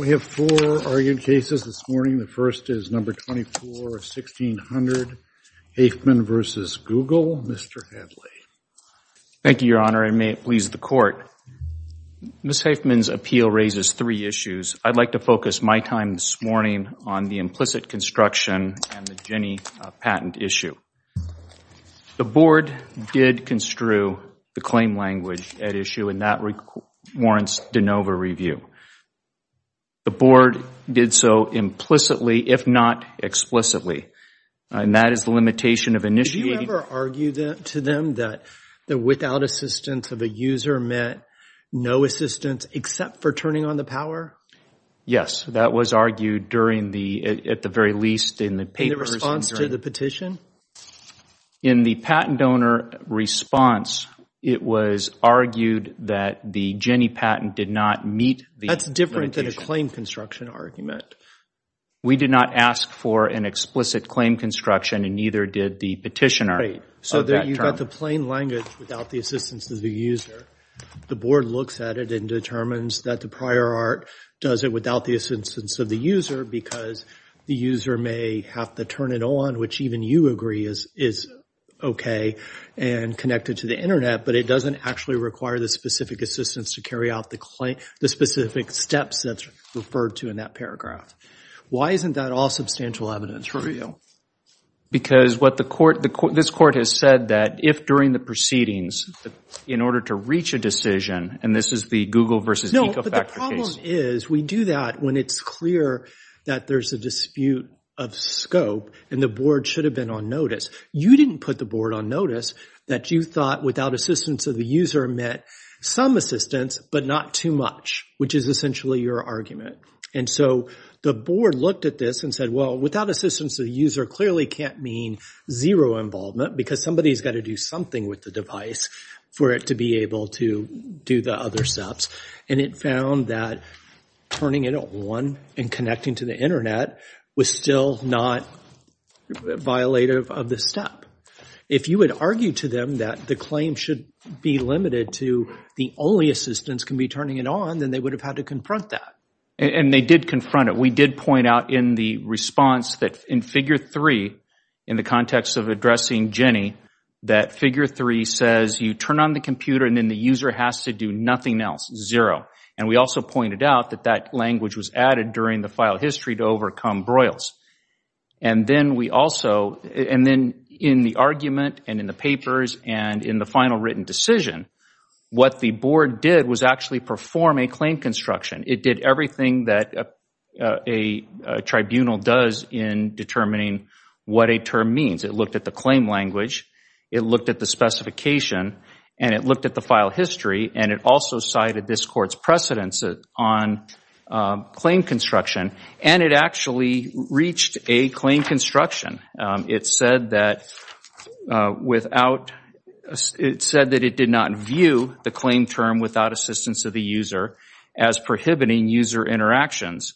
We have four argued cases this morning. The first is number 24 of 1600, Haifman v. Google. Mr. Hadley. Thank you, Your Honor, and may it please the Court. Ms. Haifman's appeal raises three issues. I'd like to focus my time this morning on the implicit construction and the Ginni patent issue. The board did construe the claim language at issue, and that warrants de novo review. The board did so implicitly, if not explicitly. And that is the limitation of initiating. Did you ever argue to them that the without assistance of a user meant no assistance except for turning on the power? Yes, that was argued during the, at the very least, in the papers. In the response to the petition? In the patent donor response, it was argued that the Ginni patent did not meet the limitation. That's different than a claim construction argument. We did not ask for an explicit claim construction, and neither did the petitioner. So you've got the plain language without the assistance of the user. The board looks at it and determines that the prior art does it without the assistance of the user, because the user may have to turn it on, which even you agree is OK, and connect it to the internet. But it doesn't actually require the specific assistance to carry out the specific steps that's referred to in that paragraph. Why isn't that all substantial evidence for you? Because what the court, this court has said that if during the proceedings, in order to reach a decision, and this is the Google versus Ecofactor case. No, but the problem is we do that when it's clear that there's a dispute of scope, and the board should have been on notice. You didn't put the board on notice that you thought without assistance of the user met some assistance, but not too much, which is essentially your argument. And so the board looked at this and said, well, without assistance of the user clearly can't mean zero involvement, because somebody has got to do something with the device for it to be able to do the other steps. And it found that turning it on and connecting to the internet was still not violative of the step. If you would argue to them that the claim should be limited to the only assistance can be turning it on, then they would have had to confront that. And they did confront it. We did point out in the response that in figure three, in the context of addressing Jenny, that figure three says you turn on the computer and then the user has to do nothing else, zero. And we also pointed out that that language was added during the file history to overcome Broyles. And then in the argument and in the papers and in the final written decision, what the board did was actually perform a claim construction. It did everything that a tribunal does in determining what a term means. It looked at the claim language. It looked at the specification. And it looked at the file history. And it also cited this court's precedence on claim construction. And it actually reached a claim construction. It said that without, it said that it did not view the claim term without assistance of the user as prohibiting user interactions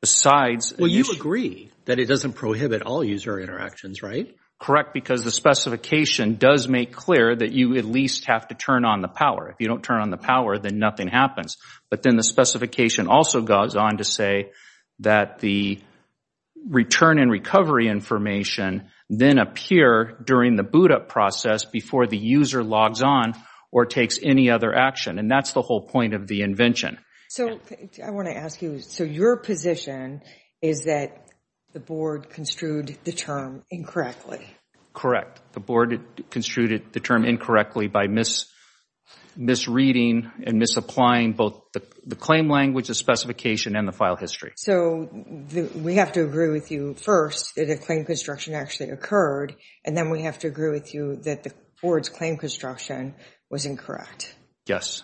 besides. Well, you agree that it doesn't prohibit all user interactions, right? Correct, because the specification does make clear that you at least have to turn on the power. If you don't turn on the power, then nothing happens. But then the specification also goes on to say that the return and recovery information then appear during the boot up process before the user logs on or takes any other action. And that's the whole point of the invention. So I want to ask you, so your position is that the board construed the term incorrectly? Correct, the board construed the term incorrectly by misreading and misapplying both the claim language, the specification, and the file history. So we have to agree with you first that a claim construction actually occurred. And then we have to agree with you that the board's claim construction was incorrect. Yes.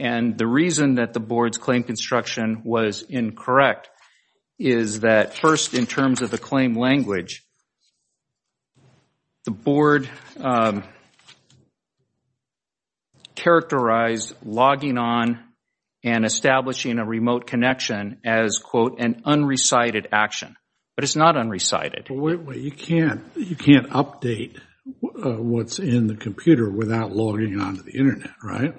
And the reason that the board's claim construction was incorrect is that first in terms of the claim language, the board characterized logging on and establishing a remote connection as, quote, an unrecited action. But it's not unrecited. But you can't update what's in the computer without logging onto the internet, right?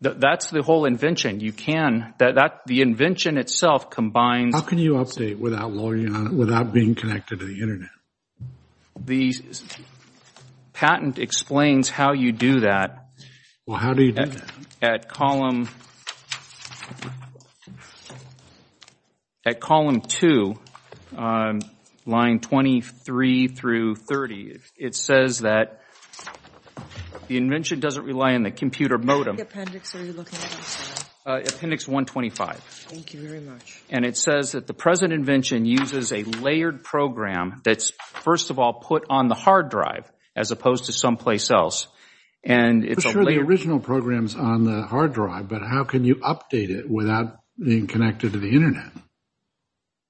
That's the whole invention. You can, the invention itself combines. How can you update without logging on, into the internet? The patent explains how you do that. Well, how do you do that? At column, at column two, line 23 through 30, it says that the invention doesn't rely on the computer modem. What appendix are you looking at? Appendix 125. Thank you very much. And it says that the present invention uses a layered program that's first of all put on the hard drive as opposed to someplace else. And it's a layer. I'm not sure the original program's on the hard drive, but how can you update it without being connected to the internet?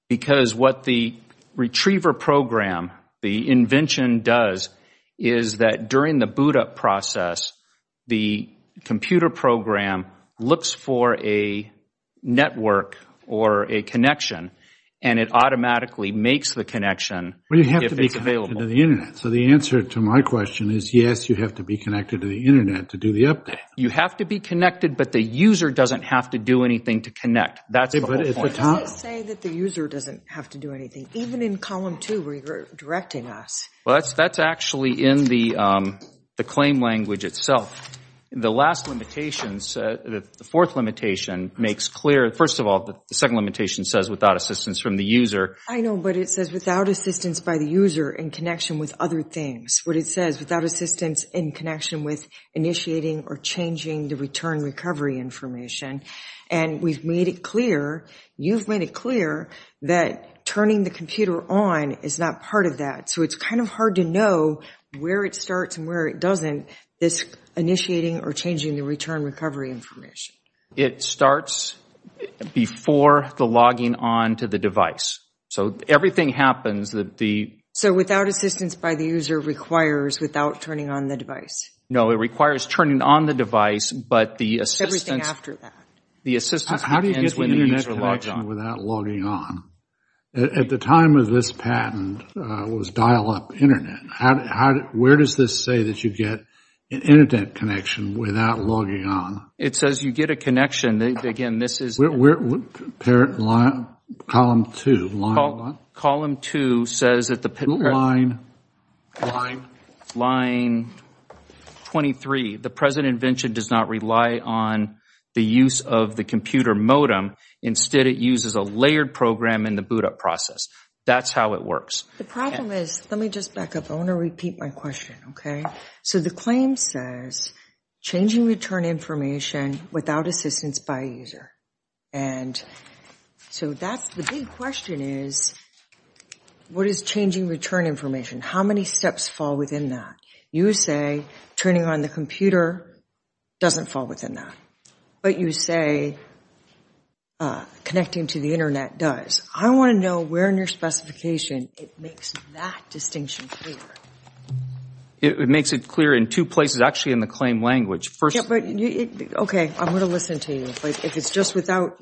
Because what the retriever program, the invention does, is that during the boot up process, the computer program looks for a network or a connection and it automatically makes the connection if it's available. Well, you have to be connected to the internet. So the answer to my question is yes, you have to be connected to the internet to do the update. You have to be connected, but the user doesn't have to do anything to connect. That's the whole point. Did they say that the user doesn't have to do anything, even in column two where you're directing us? Well, that's actually in the claim language itself. The last limitations, the fourth limitation makes clear, first of all, the second limitation says without assistance from the user. I know, but it says without assistance by the user in connection with other things. What it says, without assistance in connection with initiating or changing the return recovery information. And we've made it clear, you've made it clear that turning the computer on is not part of that. So it's kind of hard to know where it starts and where it doesn't, this initiating or changing the return recovery information. It starts before the logging on to the device. So everything happens that the- So without assistance by the user requires without turning on the device. No, it requires turning on the device, but the assistance- Everything after that. The assistance begins- How do you get the internet connection without logging on? At the time of this patent was dial up internet. Where does this say that you get an internet connection without logging on? It says you get a connection. Again, this is- Where, parent line, column two, line one? Column two says that the- Line, line- Line 23. The present invention does not rely on the use of the computer modem. Instead, it uses a layered program in the boot up process. That's how it works. The problem is, let me just back up. I want to repeat my question, okay? So the claim says changing return information without assistance by user. And so that's the big question is, what is changing return information? How many steps fall within that? You say turning on the computer doesn't fall within that, but you say connecting to the internet does. I want to know where in your specification it makes that distinction clear. It makes it clear in two places. Actually, in the claim language. First- Okay, I'm going to listen to you. If it's just without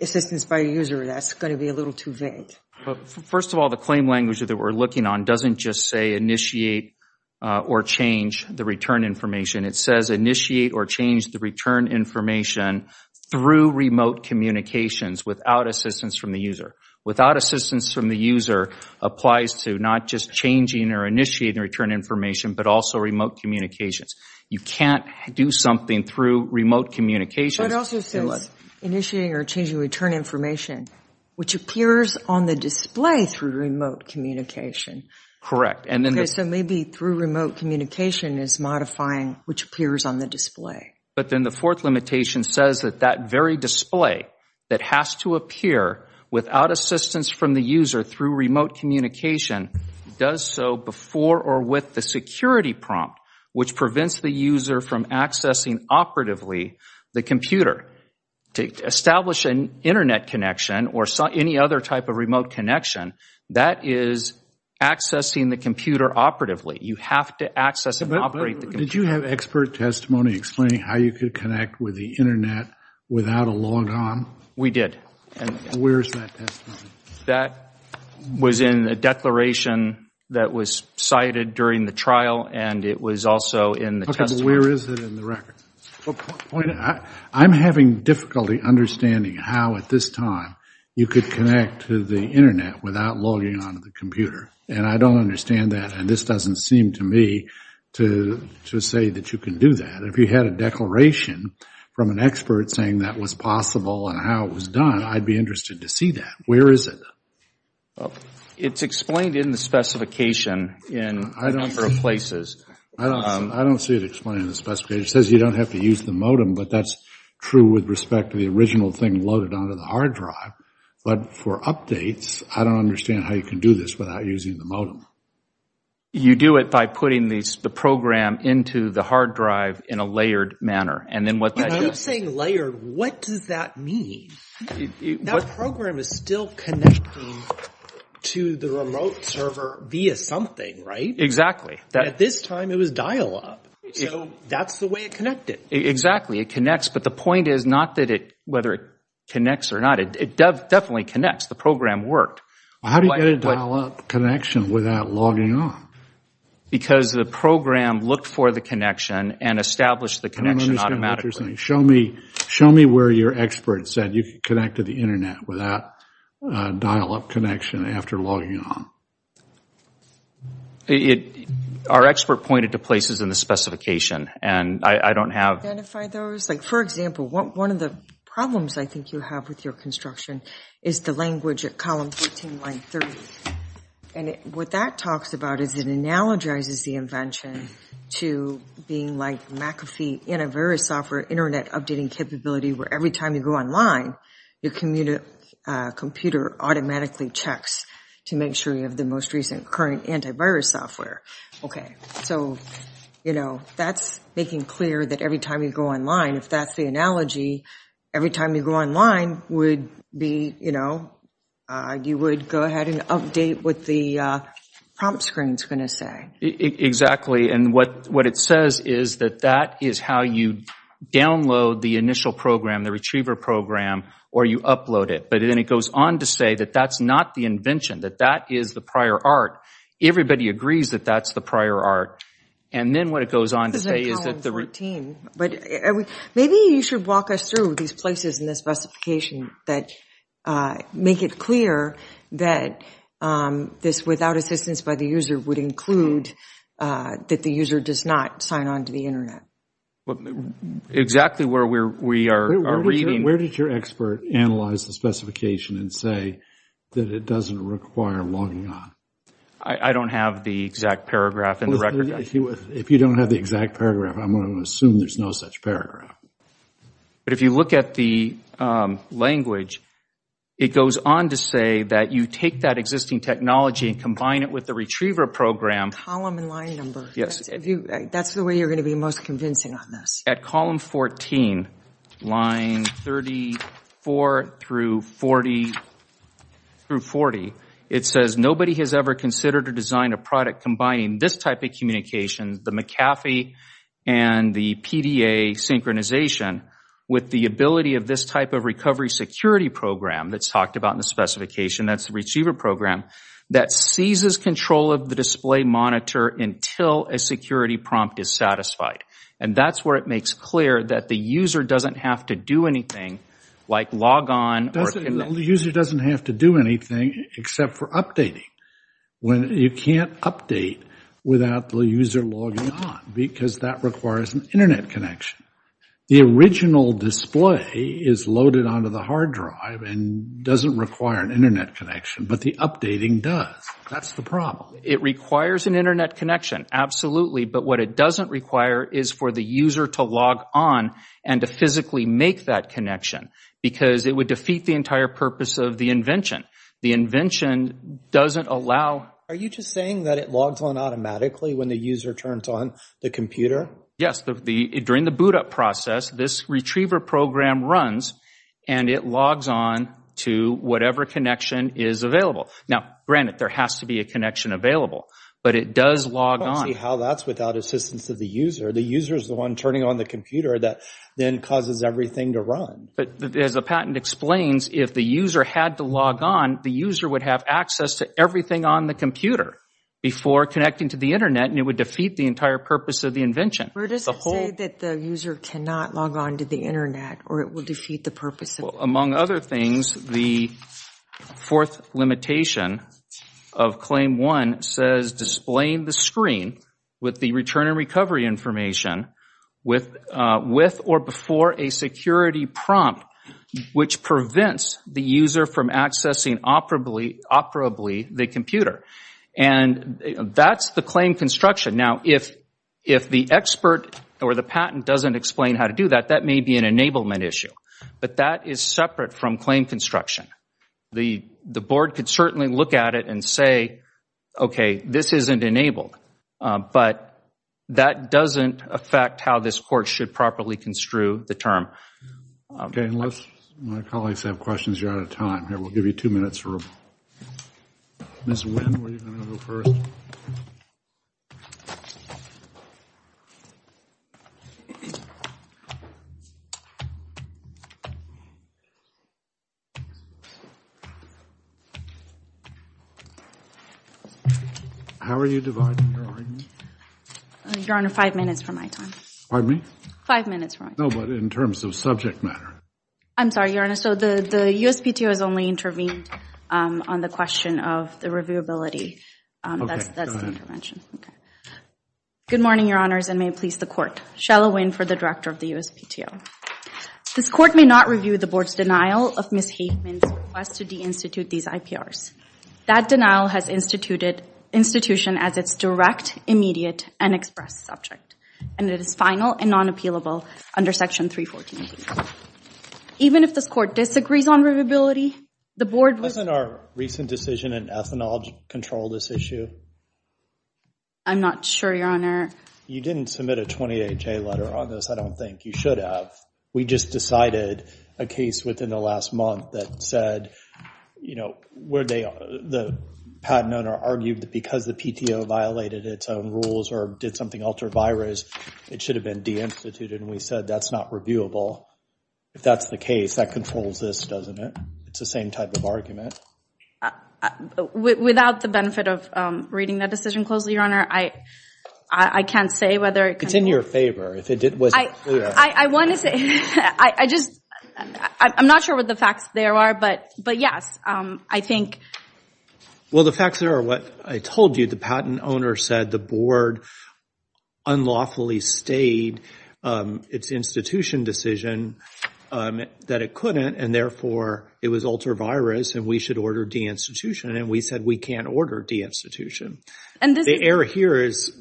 assistance by user, that's going to be a little too vague. First of all, the claim language that we're looking on doesn't just say initiate or change the return information. It says initiate or change the return information through remote communications without assistance from the user. Without assistance from the user applies to not just changing or initiating the return information, but also remote communications. You can't do something through remote communications- But it also says initiating or changing return information, which appears on the display through remote communication. Correct, and then- Okay, so maybe through remote communication is modifying which appears on the display. But then the fourth limitation says that that very display that has to appear without assistance from the user through remote communication does so before or with the security prompt, which prevents the user from accessing operatively the computer. To establish an internet connection or any other type of remote connection, that is accessing the computer operatively. You have to access and operate the computer. Did you have expert testimony explaining how you could connect with the internet without a logon? We did. Where's that testimony? That was in a declaration that was cited during the trial, and it was also in the testimony. Okay, but where is it in the record? What point? I'm having difficulty understanding how, at this time, you could connect to the internet without logging onto the computer. And I don't understand that, and this doesn't seem to me to say that you can do that. If you had a declaration from an expert saying that was possible and how it was done, I'd be interested to see that. Where is it? It's explained in the specification in a number of places. I don't see it explained in the specification. It says you don't have to use the modem, but that's true with respect to the original thing loaded onto the hard drive. But for updates, I don't understand how you can do this without using the modem. You do it by putting the program into the hard drive in a layered manner, and then what that does... You keep saying layered. What does that mean? That program is still connecting to the remote server via something, right? Exactly. At this time, it was dial-up, so that's the way it connected. Exactly, it connects, but the point is not that it, whether it connects or not, it definitely connects. The program worked. How do you get a dial-up connection without logging on? Because the program looked for the connection and established the connection automatically. Show me where your expert said you could connect to the internet without a dial-up connection after logging on. Our expert pointed to places in the specification, and I don't have... Identify those? Like, for example, one of the problems I think you have with your construction is the language at column 14, line 30, and what that talks about is it analogizes the invention to being like McAfee antivirus software internet updating capability where every time you go online, your computer automatically checks to make sure you have the most recent current antivirus software. Okay, so, you know, that's making clear that every time you go online, if that's the analogy, every time you go online would be, you know, you would go ahead and update what the prompt screen's gonna say. Exactly, and what it says is that that is how you download the initial program, the retriever program, or you upload it. But then it goes on to say that that's not the invention, that that is the prior art. Everybody agrees that that's the prior art. And then what it goes on to say is that the... This isn't column 14. But maybe you should walk us through these places in the specification that make it clear that this without assistance by the user would include that the user does not sign on to the internet. Exactly where we are reading. Where did your expert analyze the specification and say that it doesn't require logging on? I don't have the exact paragraph in the record. If you don't have the exact paragraph, I'm gonna assume there's no such paragraph. But if you look at the language, it goes on to say that you take that existing technology and combine it with the retriever program. Column and line number. Yes. That's the way you're gonna be most convincing on this. At column 14, line 34 through 40, it says nobody has ever considered to design a product combining this type of communication, the McAfee and the PDA synchronization with the ability of this type of recovery security program that's talked about in the specification, that's the retriever program, that seizes control of the display monitor until a security prompt is satisfied. And that's where it makes clear that the user doesn't have to do anything like log on. The user doesn't have to do anything except for updating. When you can't update without the user logging on because that requires an internet connection. The original display is loaded onto the hard drive and doesn't require an internet connection, but the updating does. That's the problem. It requires an internet connection, absolutely, but what it doesn't require is for the user to log on and to physically make that connection because it would defeat the entire purpose of the invention. The invention doesn't allow. Are you just saying that it logs on automatically when the user turns on the computer? Yes, during the boot-up process, this retriever program runs and it logs on to whatever connection is available. Now, granted, there has to be a connection available, but it does log on. I don't see how that's without assistance of the user. The user is the one turning on the computer that then causes everything to run. But as the patent explains, if the user had to log on, the user would have access to everything on the computer before connecting to the internet and it would defeat the entire purpose of the invention. Where does it say that the user cannot log on to the internet or it will defeat the purpose of it? Among other things, the fourth limitation of Claim 1 says displaying the screen with the return and recovery information with or before a security prompt, which prevents the user from accessing operably the computer. And that's the claim construction. Now, if the expert or the patent doesn't explain how to do that, that may be an enablement issue, but that is separate from claim construction. The board could certainly look at it and say, okay, this isn't enabled, but that doesn't affect how this court should properly construe the term. Unless my colleagues have questions, you're out of time. Here, we'll give you two minutes for... Ms. Nguyen, were you gonna go first? How are you dividing your argument? Your Honor, five minutes for my time. Pardon me? Five minutes for my time. No, but in terms of subject matter. I'm sorry, Your Honor, so the USPTO has only intervened on the question of the reviewability. That's the intervention. Good morning, Your Honors, and may it please the court. Shella Nguyen for the director of the USPTO. This court may not review the board's denial of Ms. Hageman's request to deinstitute these IPRs. That denial has instituted institution as its direct, immediate, and express subject, and it is final and non-appealable under section 314B. Even if this court disagrees on reviewability, the board would... Doesn't our recent decision in ethanol control this issue? I'm not sure, Your Honor. You didn't submit a 28-J letter on this. I don't think you should have. We just decided a case within the last month that said, you know, where they, the patent owner argued that because the PTO violated its own rules or did something ultra-virus, it should have been deinstituted, and we said that's not reviewable. If that's the case, that controls this, doesn't it? It's the same type of argument. Without the benefit of reading that decision closely, Your Honor, I can't say whether it... It's in your favor. If it wasn't clear... I want to say, I just, I'm not sure what the facts there are, but yes, I think... Well, the facts there are what I told you. The patent owner said the board unlawfully stayed its institution decision, that it couldn't, and therefore, it was ultra-virus, and we should order deinstitution, and we said we can't order deinstitution. And the error here is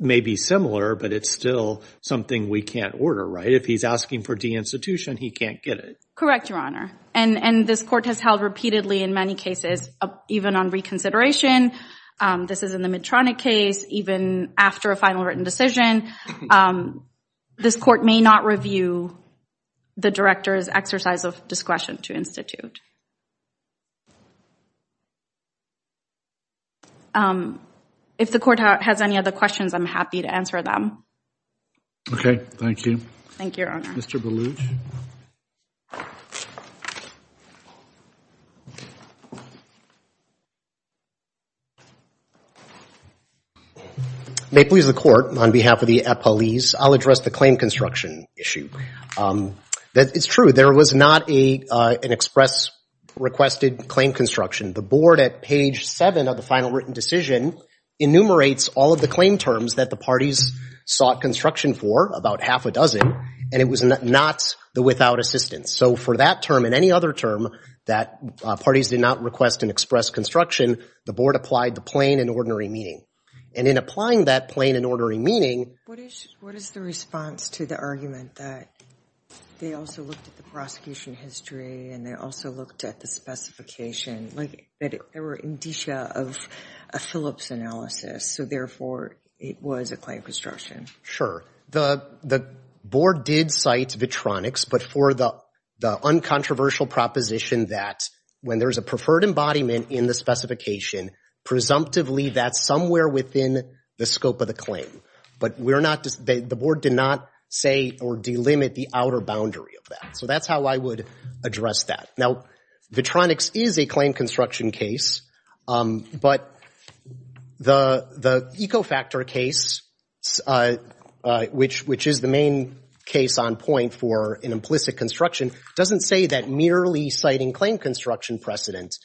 maybe similar, but it's still something we can't order, right? If he's asking for deinstitution, he can't get it. Correct, Your Honor. And this court has held repeatedly in many cases, even on reconsideration. This is in the Medtronic case, even after a final written decision. This court may not review the director's exercise of discretion to institute. If the court has any other questions, I'm happy to answer them. Okay, thank you. Thank you, Your Honor. Mr. Belucci. May it please the Court, on behalf of the appellees, I'll address the claim construction issue. It's true, there was not an express requested claim construction. The board at page seven of the final written decision enumerates all of the claim terms that the parties sought construction for, about half a dozen, and it was not the without assistance. So for that term and any other term that parties did not request an express construction, the board applied the plain and ordinary meaning. And in applying that plain and ordinary meaning. What is the response to the argument that they also looked at the prosecution history and they also looked at the specification, like they were in detia of a Phillips analysis, so therefore it was a claim construction? Sure, the board did cite Vitronics, but for the uncontroversial proposition that when there's a preferred embodiment in the specification, presumptively that's somewhere within the scope of the claim. But the board did not say or delimit the outer boundary of that. So that's how I would address that. Now, Vitronics is a claim construction case, but the Ecofactor case, which is the main case on point for an implicit construction, doesn't say that merely citing claim construction precedent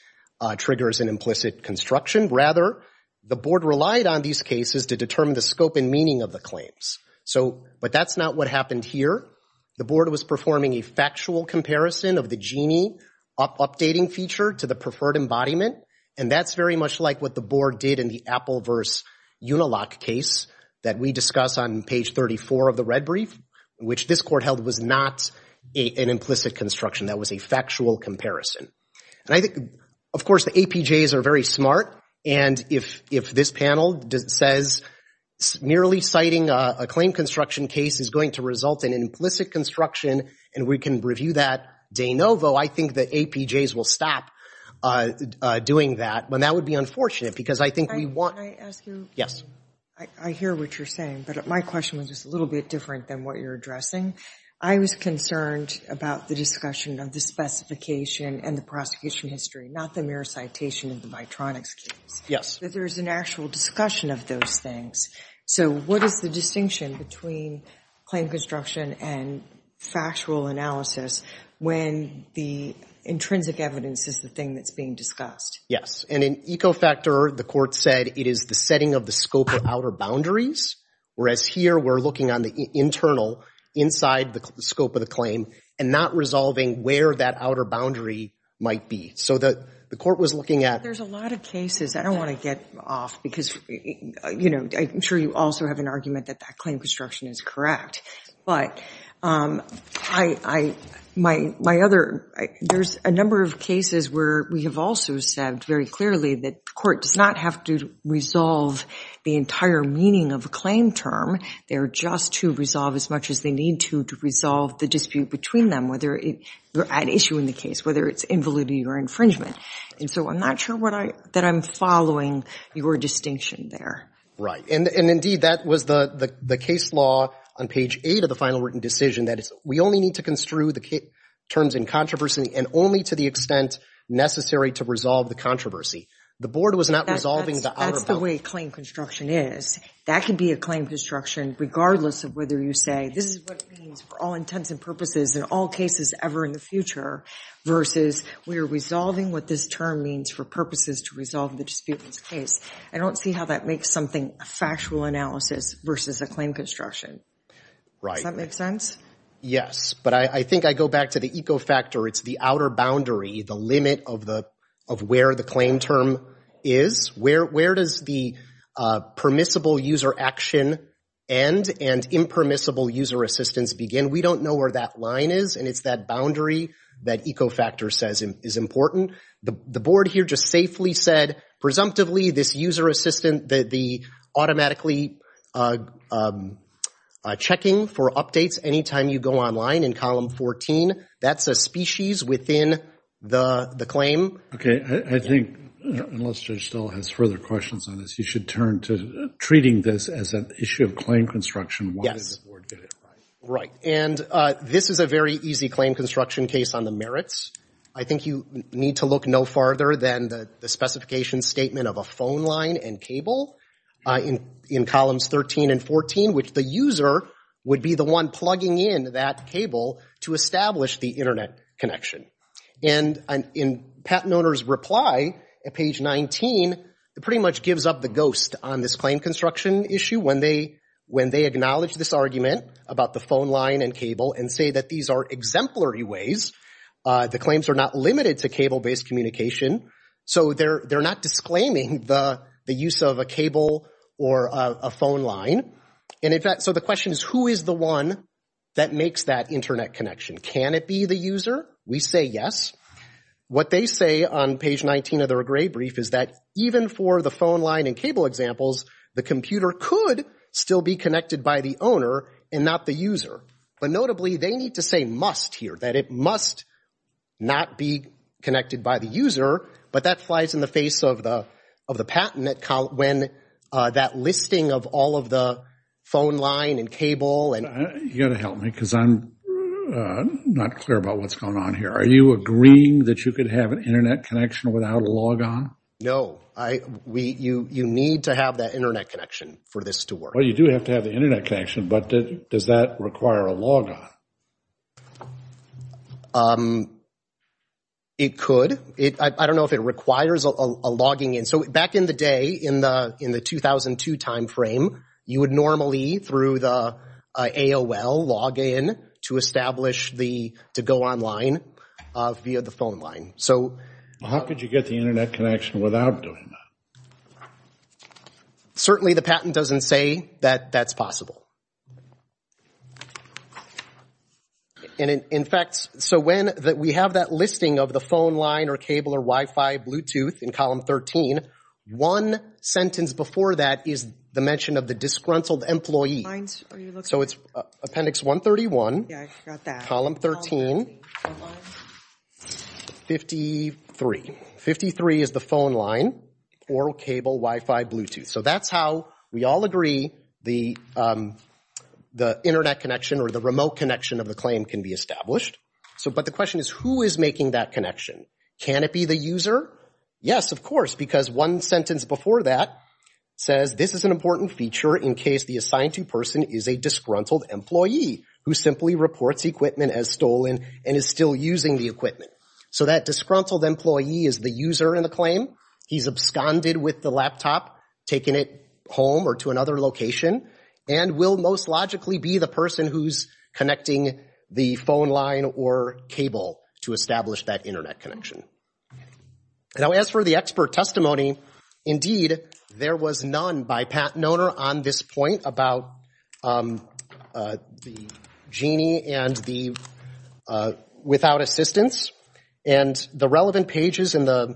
triggers an implicit construction. Rather, the board relied on these cases to determine the scope and meaning of the claims. So, but that's not what happened here. The board was performing a factual comparison of the GINI updating feature to the preferred embodiment. And that's very much like what the board did in the Apple versus Unilock case that we discuss on page 34 of the red brief, which this court held was not an implicit construction, that was a factual comparison. And I think, of course, the APJs are very smart. And if this panel says merely citing a claim construction case is going to result in an implicit construction, and we can review that de novo, I think the APJs will stop doing that. But that would be unfortunate because I think we want- Can I ask you? Yes. I hear what you're saying, but my question was just a little bit different than what you're addressing. I was concerned about the discussion of the specification and the prosecution history, not the mere citation of the Vitronics case. Yes. But there's an actual discussion of those things. So what is the distinction between claim construction and factual analysis when the intrinsic evidence is the thing that's being discussed? Yes, and in Ecofactor, the court said it is the setting of the scope of outer boundaries, whereas here we're looking on the internal, inside the scope of the claim, and not resolving where that outer boundary might be. So the court was looking at- There's a lot of cases, I don't want to get off, because I'm sure you also have an argument that that claim construction is correct. But my other, there's a number of cases where we have also said very clearly that the court does not have to resolve the entire meaning of a claim term. They're just to resolve as much as they need to to resolve the dispute between them, whether you're at issue in the case, whether it's invalidity or infringement. And so I'm not sure that I'm following your distinction there. Right, and indeed, that was the case law on page eight of the final written decision. That is, we only need to construe the terms in controversy and only to the extent necessary to resolve the controversy. The board was not resolving the outer boundary. That's the way claim construction is. That can be a claim construction, regardless of whether you say, this is what it means for all intents and purposes in all cases ever in the future, versus we are resolving what this term means for purposes to resolve the dispute in this case. I don't see how that makes something a factual analysis versus a claim construction. Right. Does that make sense? Yes, but I think I go back to the eco-factor. It's the outer boundary, the limit of where the claim term is. Where does the permissible user action end and impermissible user assistance begin? We don't know where that line is, and it's that boundary that eco-factor says is important. The board here just safely said, presumptively, this user assistant, the automatically checking for updates anytime you go online in column 14, that's a species within the claim. Okay, I think, unless Judge Stoll has further questions on this, you should turn to treating this as an issue of claim construction. Why does the board get it? Right, and this is a very easy claim construction case on the merits. I think you need to look no farther than the specification statement of a phone line and cable in columns 13 and 14, which the user would be the one plugging in that cable to establish the internet connection. And in patent owner's reply at page 19, it pretty much gives up the ghost on this claim construction issue when they acknowledge this argument about the phone line and cable and say that these are exemplary ways. The claims are not limited to cable-based communication, so they're not disclaiming the use of a cable or a phone line. And in fact, so the question is, who is the one that makes that internet connection? Can it be the user? We say yes. What they say on page 19 of their gray brief is that even for the phone line and cable examples, the computer could still be connected by the owner and not the user. But notably, they need to say must here, that it must not be connected by the user, but that flies in the face of the patent when that listing of all of the phone line and cable. You gotta help me, because I'm not clear about what's going on here. Are you agreeing that you could have an internet connection without a logon? No, you need to have that internet connection for this to work. Well, you do have to have the internet connection, but does that require a logon? It could. I don't know if it requires a logging in. So back in the day, in the 2002 timeframe, you would normally through the AOL log in to establish the, to go online via the phone line. How could you get the internet connection without doing that? Certainly the patent doesn't say that that's possible. And in fact, so when we have that listing of the phone line or cable or Wi-Fi, Bluetooth, in column 13, one sentence before that is the mention of the disgruntled employee. So it's appendix 131, column 13. What's the phone line? 53. 53 is the phone line or cable, Wi-Fi, Bluetooth. So that's how we all agree the internet connection or the remote connection of the claim can be established. So, but the question is who is making that connection? Can it be the user? Yes, of course, because one sentence before that says this is an important feature in case the assigned to person is a disgruntled employee who simply reports equipment as stolen and is still using the equipment. So that disgruntled employee is the user in the claim. He's absconded with the laptop, taken it home or to another location, and will most logically be the person who's connecting the phone line or cable to establish that internet connection. Now as for the expert testimony, indeed, there was none by patent owner on this point about the genie and the, without assistance. And the relevant pages in the,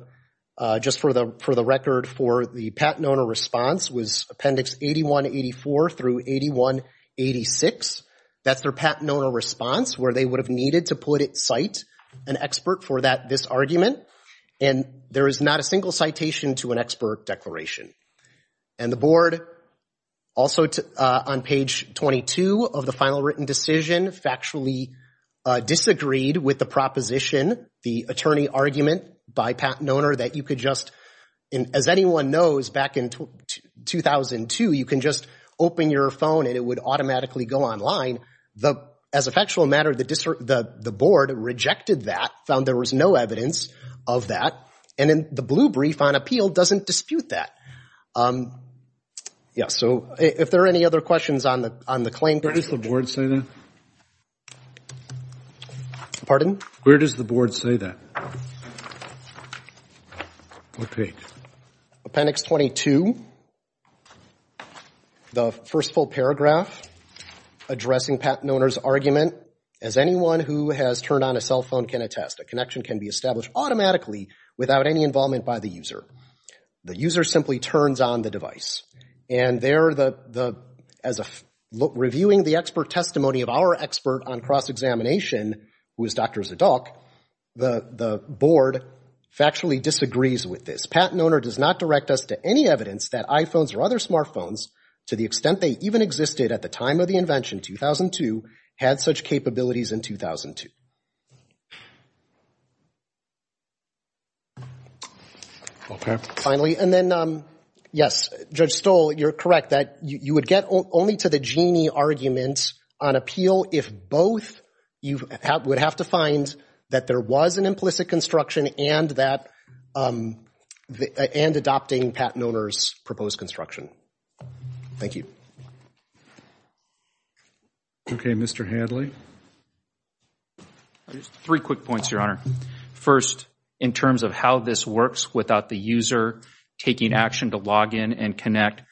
just for the record for the patent owner response was Appendix 8184 through 8186. That's their patent owner response where they would have needed to put at site an expert for this argument. And there is not a single citation to an expert declaration. And the board also on page 22 of the final written decision factually disagreed with the proposition, the attorney argument by patent owner that you could just, as anyone knows back in 2002, you can just open your phone and it would automatically go online. The, as a factual matter, the board rejected that, found there was no evidence of that. And then the blue brief on appeal doesn't dispute that. Yeah, so if there are any other questions on the claim. Where does the board say that? Pardon? Where does the board say that? Okay. Appendix 22, the first full paragraph addressing patent owner's argument. As anyone who has turned on a cell phone can attest, a connection can be established automatically without any involvement by the user. The user simply turns on the device. And there, as reviewing the expert testimony of our expert on cross-examination, who is Dr. Zadok, the board factually disagrees with this. Patent owner does not direct us to any evidence that iPhones or other smartphones, to the extent they even existed at the time of the invention, 2002, had such capabilities in 2002. Okay. Finally, and then, yes, Judge Stoll, you're correct that you would get only to the genie arguments on appeal if both you would have to find that there was an implicit construction and adopting patent owner's proposed construction. Thank you. Okay, Mr. Hadley. Three quick points, Your Honor. First, in terms of how this works without the user taking action to log in and connect,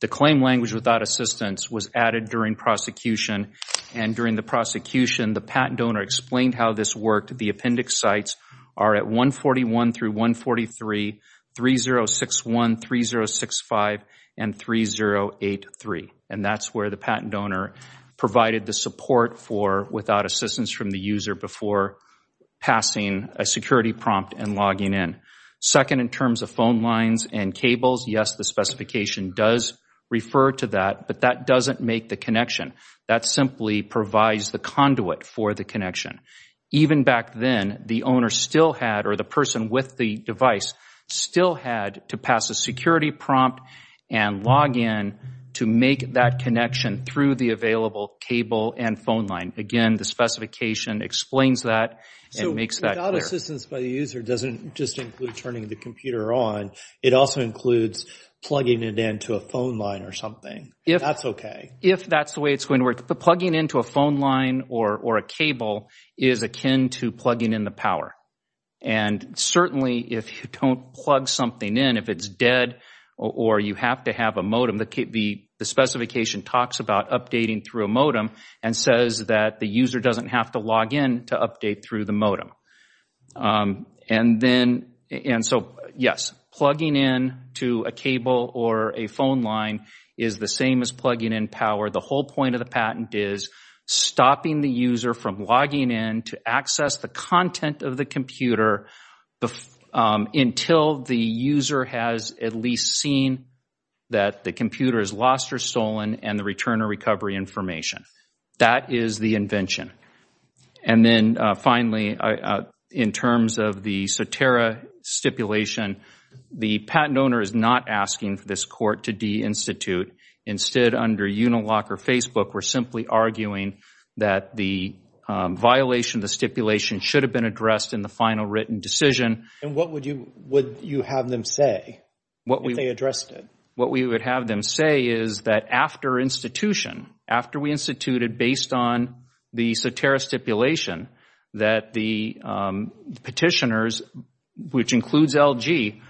the claim language without assistance was added during prosecution. And during the prosecution, the patent donor explained how this worked. The appendix sites are at 141 through 143, 3061, 3065, and 3083. And that's where the patent donor provided the support for without assistance from the user before passing a security prompt and logging in. Second, in terms of phone lines and cables, yes, the specification does refer to that, but that doesn't make the connection. That simply provides the conduit for the connection. Even back then, the owner still had, or the person with the device still had to pass a security prompt and log in to make that connection through the available cable and phone line. Again, the specification explains that and makes that clear. So without assistance by the user doesn't just include turning the computer on. It also includes plugging it into a phone line or something. If that's okay. If that's the way it's going to work. The plugging into a phone line or a cable is akin to plugging in the power. And certainly, if you don't plug something in, if it's dead or you have to have a modem, the specification talks about updating through a modem and says that the user doesn't have to log in to update through the modem. And then, and so, yes, plugging in to a cable or a phone line is the same as plugging in power. The whole point of the patent is stopping the user from logging in to access the content of the computer until the user has at least seen that the computer is lost or stolen and the return or recovery information. That is the invention. And then finally, in terms of the Soterra stipulation, the patent owner is not asking for this court to de-institute. Instead, under Unilock or Facebook, we're simply arguing that the violation, the stipulation should have been addressed in the final written decision. And what would you have them say if they addressed it? What we would have them say is that after institution, after we instituted, based on the Soterra stipulation, that the petitioners, which includes LG,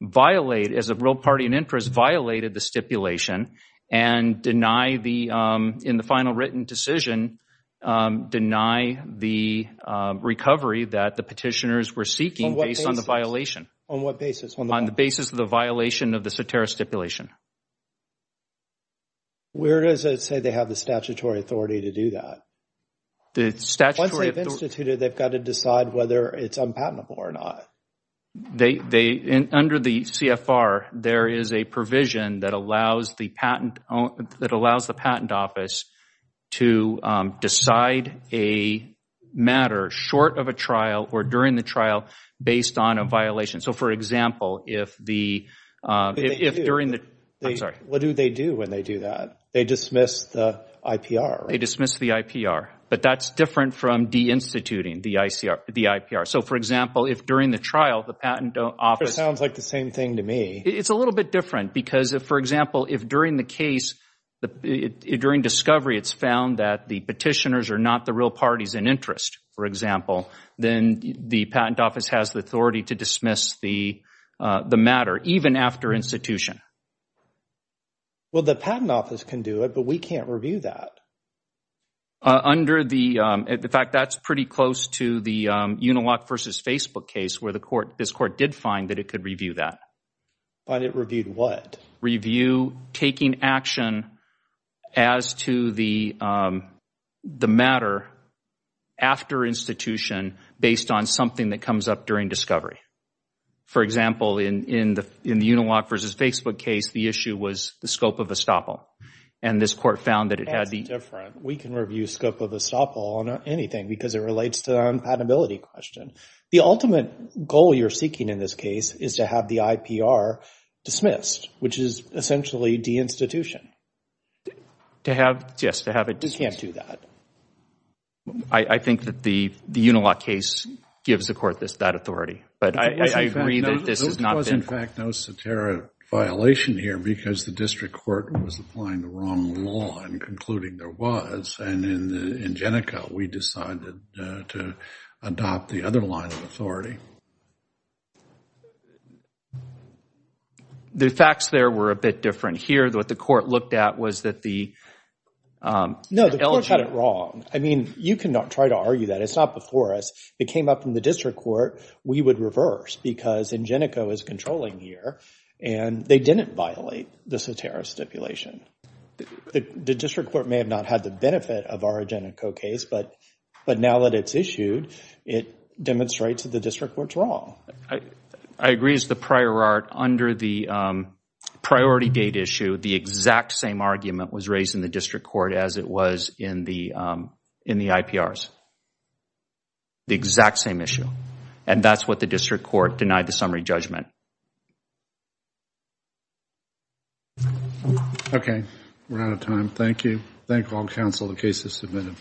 violate, as a real party and interest, violated the stipulation and deny the, in the final written decision, deny the recovery that the petitioners were seeking based on the violation. On what basis? On the basis of the violation of the Soterra stipulation. Where does it say they have the statutory authority to do that? The statutory authority. Once they've instituted, they've got to decide whether it's unpatentable or not. They, under the CFR, there is a provision that allows the patent, that allows the patent office to decide a matter short of a trial or during the trial based on a violation. So for example, if the, if during the trial, what do they do when they do that? They dismiss the IPR. They dismiss the IPR. But that's different from de-instituting the IPR. So for example, if during the trial, the patent office. That sounds like the same thing to me. It's a little bit different because if, for example, if during the case, during discovery, it's found that the petitioners are not the real parties and interest, for example, then the patent office has the authority to dismiss the matter, even after institution. Well, the patent office can do it, but we can't review that. Under the, in fact, that's pretty close to the Unilock versus Facebook case where the court, this court did find that it could review that. Find it reviewed what? Review taking action as to the matter after institution based on something that comes up during discovery. For example, in the Unilock versus Facebook case, the issue was the scope of estoppel. And this court found that it had the. That's different. We can review scope of estoppel on anything because it relates to the unpatentability question. The ultimate goal you're seeking in this case is to have the IPR dismissed, which is essentially de-institution. To have, yes, to have it dismissed. You can't do that. I think that the Unilock case gives the court that authority. But I agree that this has not been. There was, in fact, no satiric violation here because the district court was applying the wrong law and concluding there was. And in Jenica, we decided to adopt the other line of authority. The facts there were a bit different. Here, what the court looked at was that the. No, the court got it wrong. I mean, you can try to argue that. It's not before us. It came up in the district court. We would reverse because Jenica was controlling here and they didn't violate the satiric stipulation. The district court may have not had the benefit of our Jenica case, but now that it's issued, it demonstrates that the district court's wrong. I agree it's the prior art. Under the priority date issue, the exact same argument was raised in the district court as it was in the IPRs. The exact same issue. And that's what the district court denied the summary judgment. Okay, we're out of time. Thank you. Thank all counsel, the case is submitted.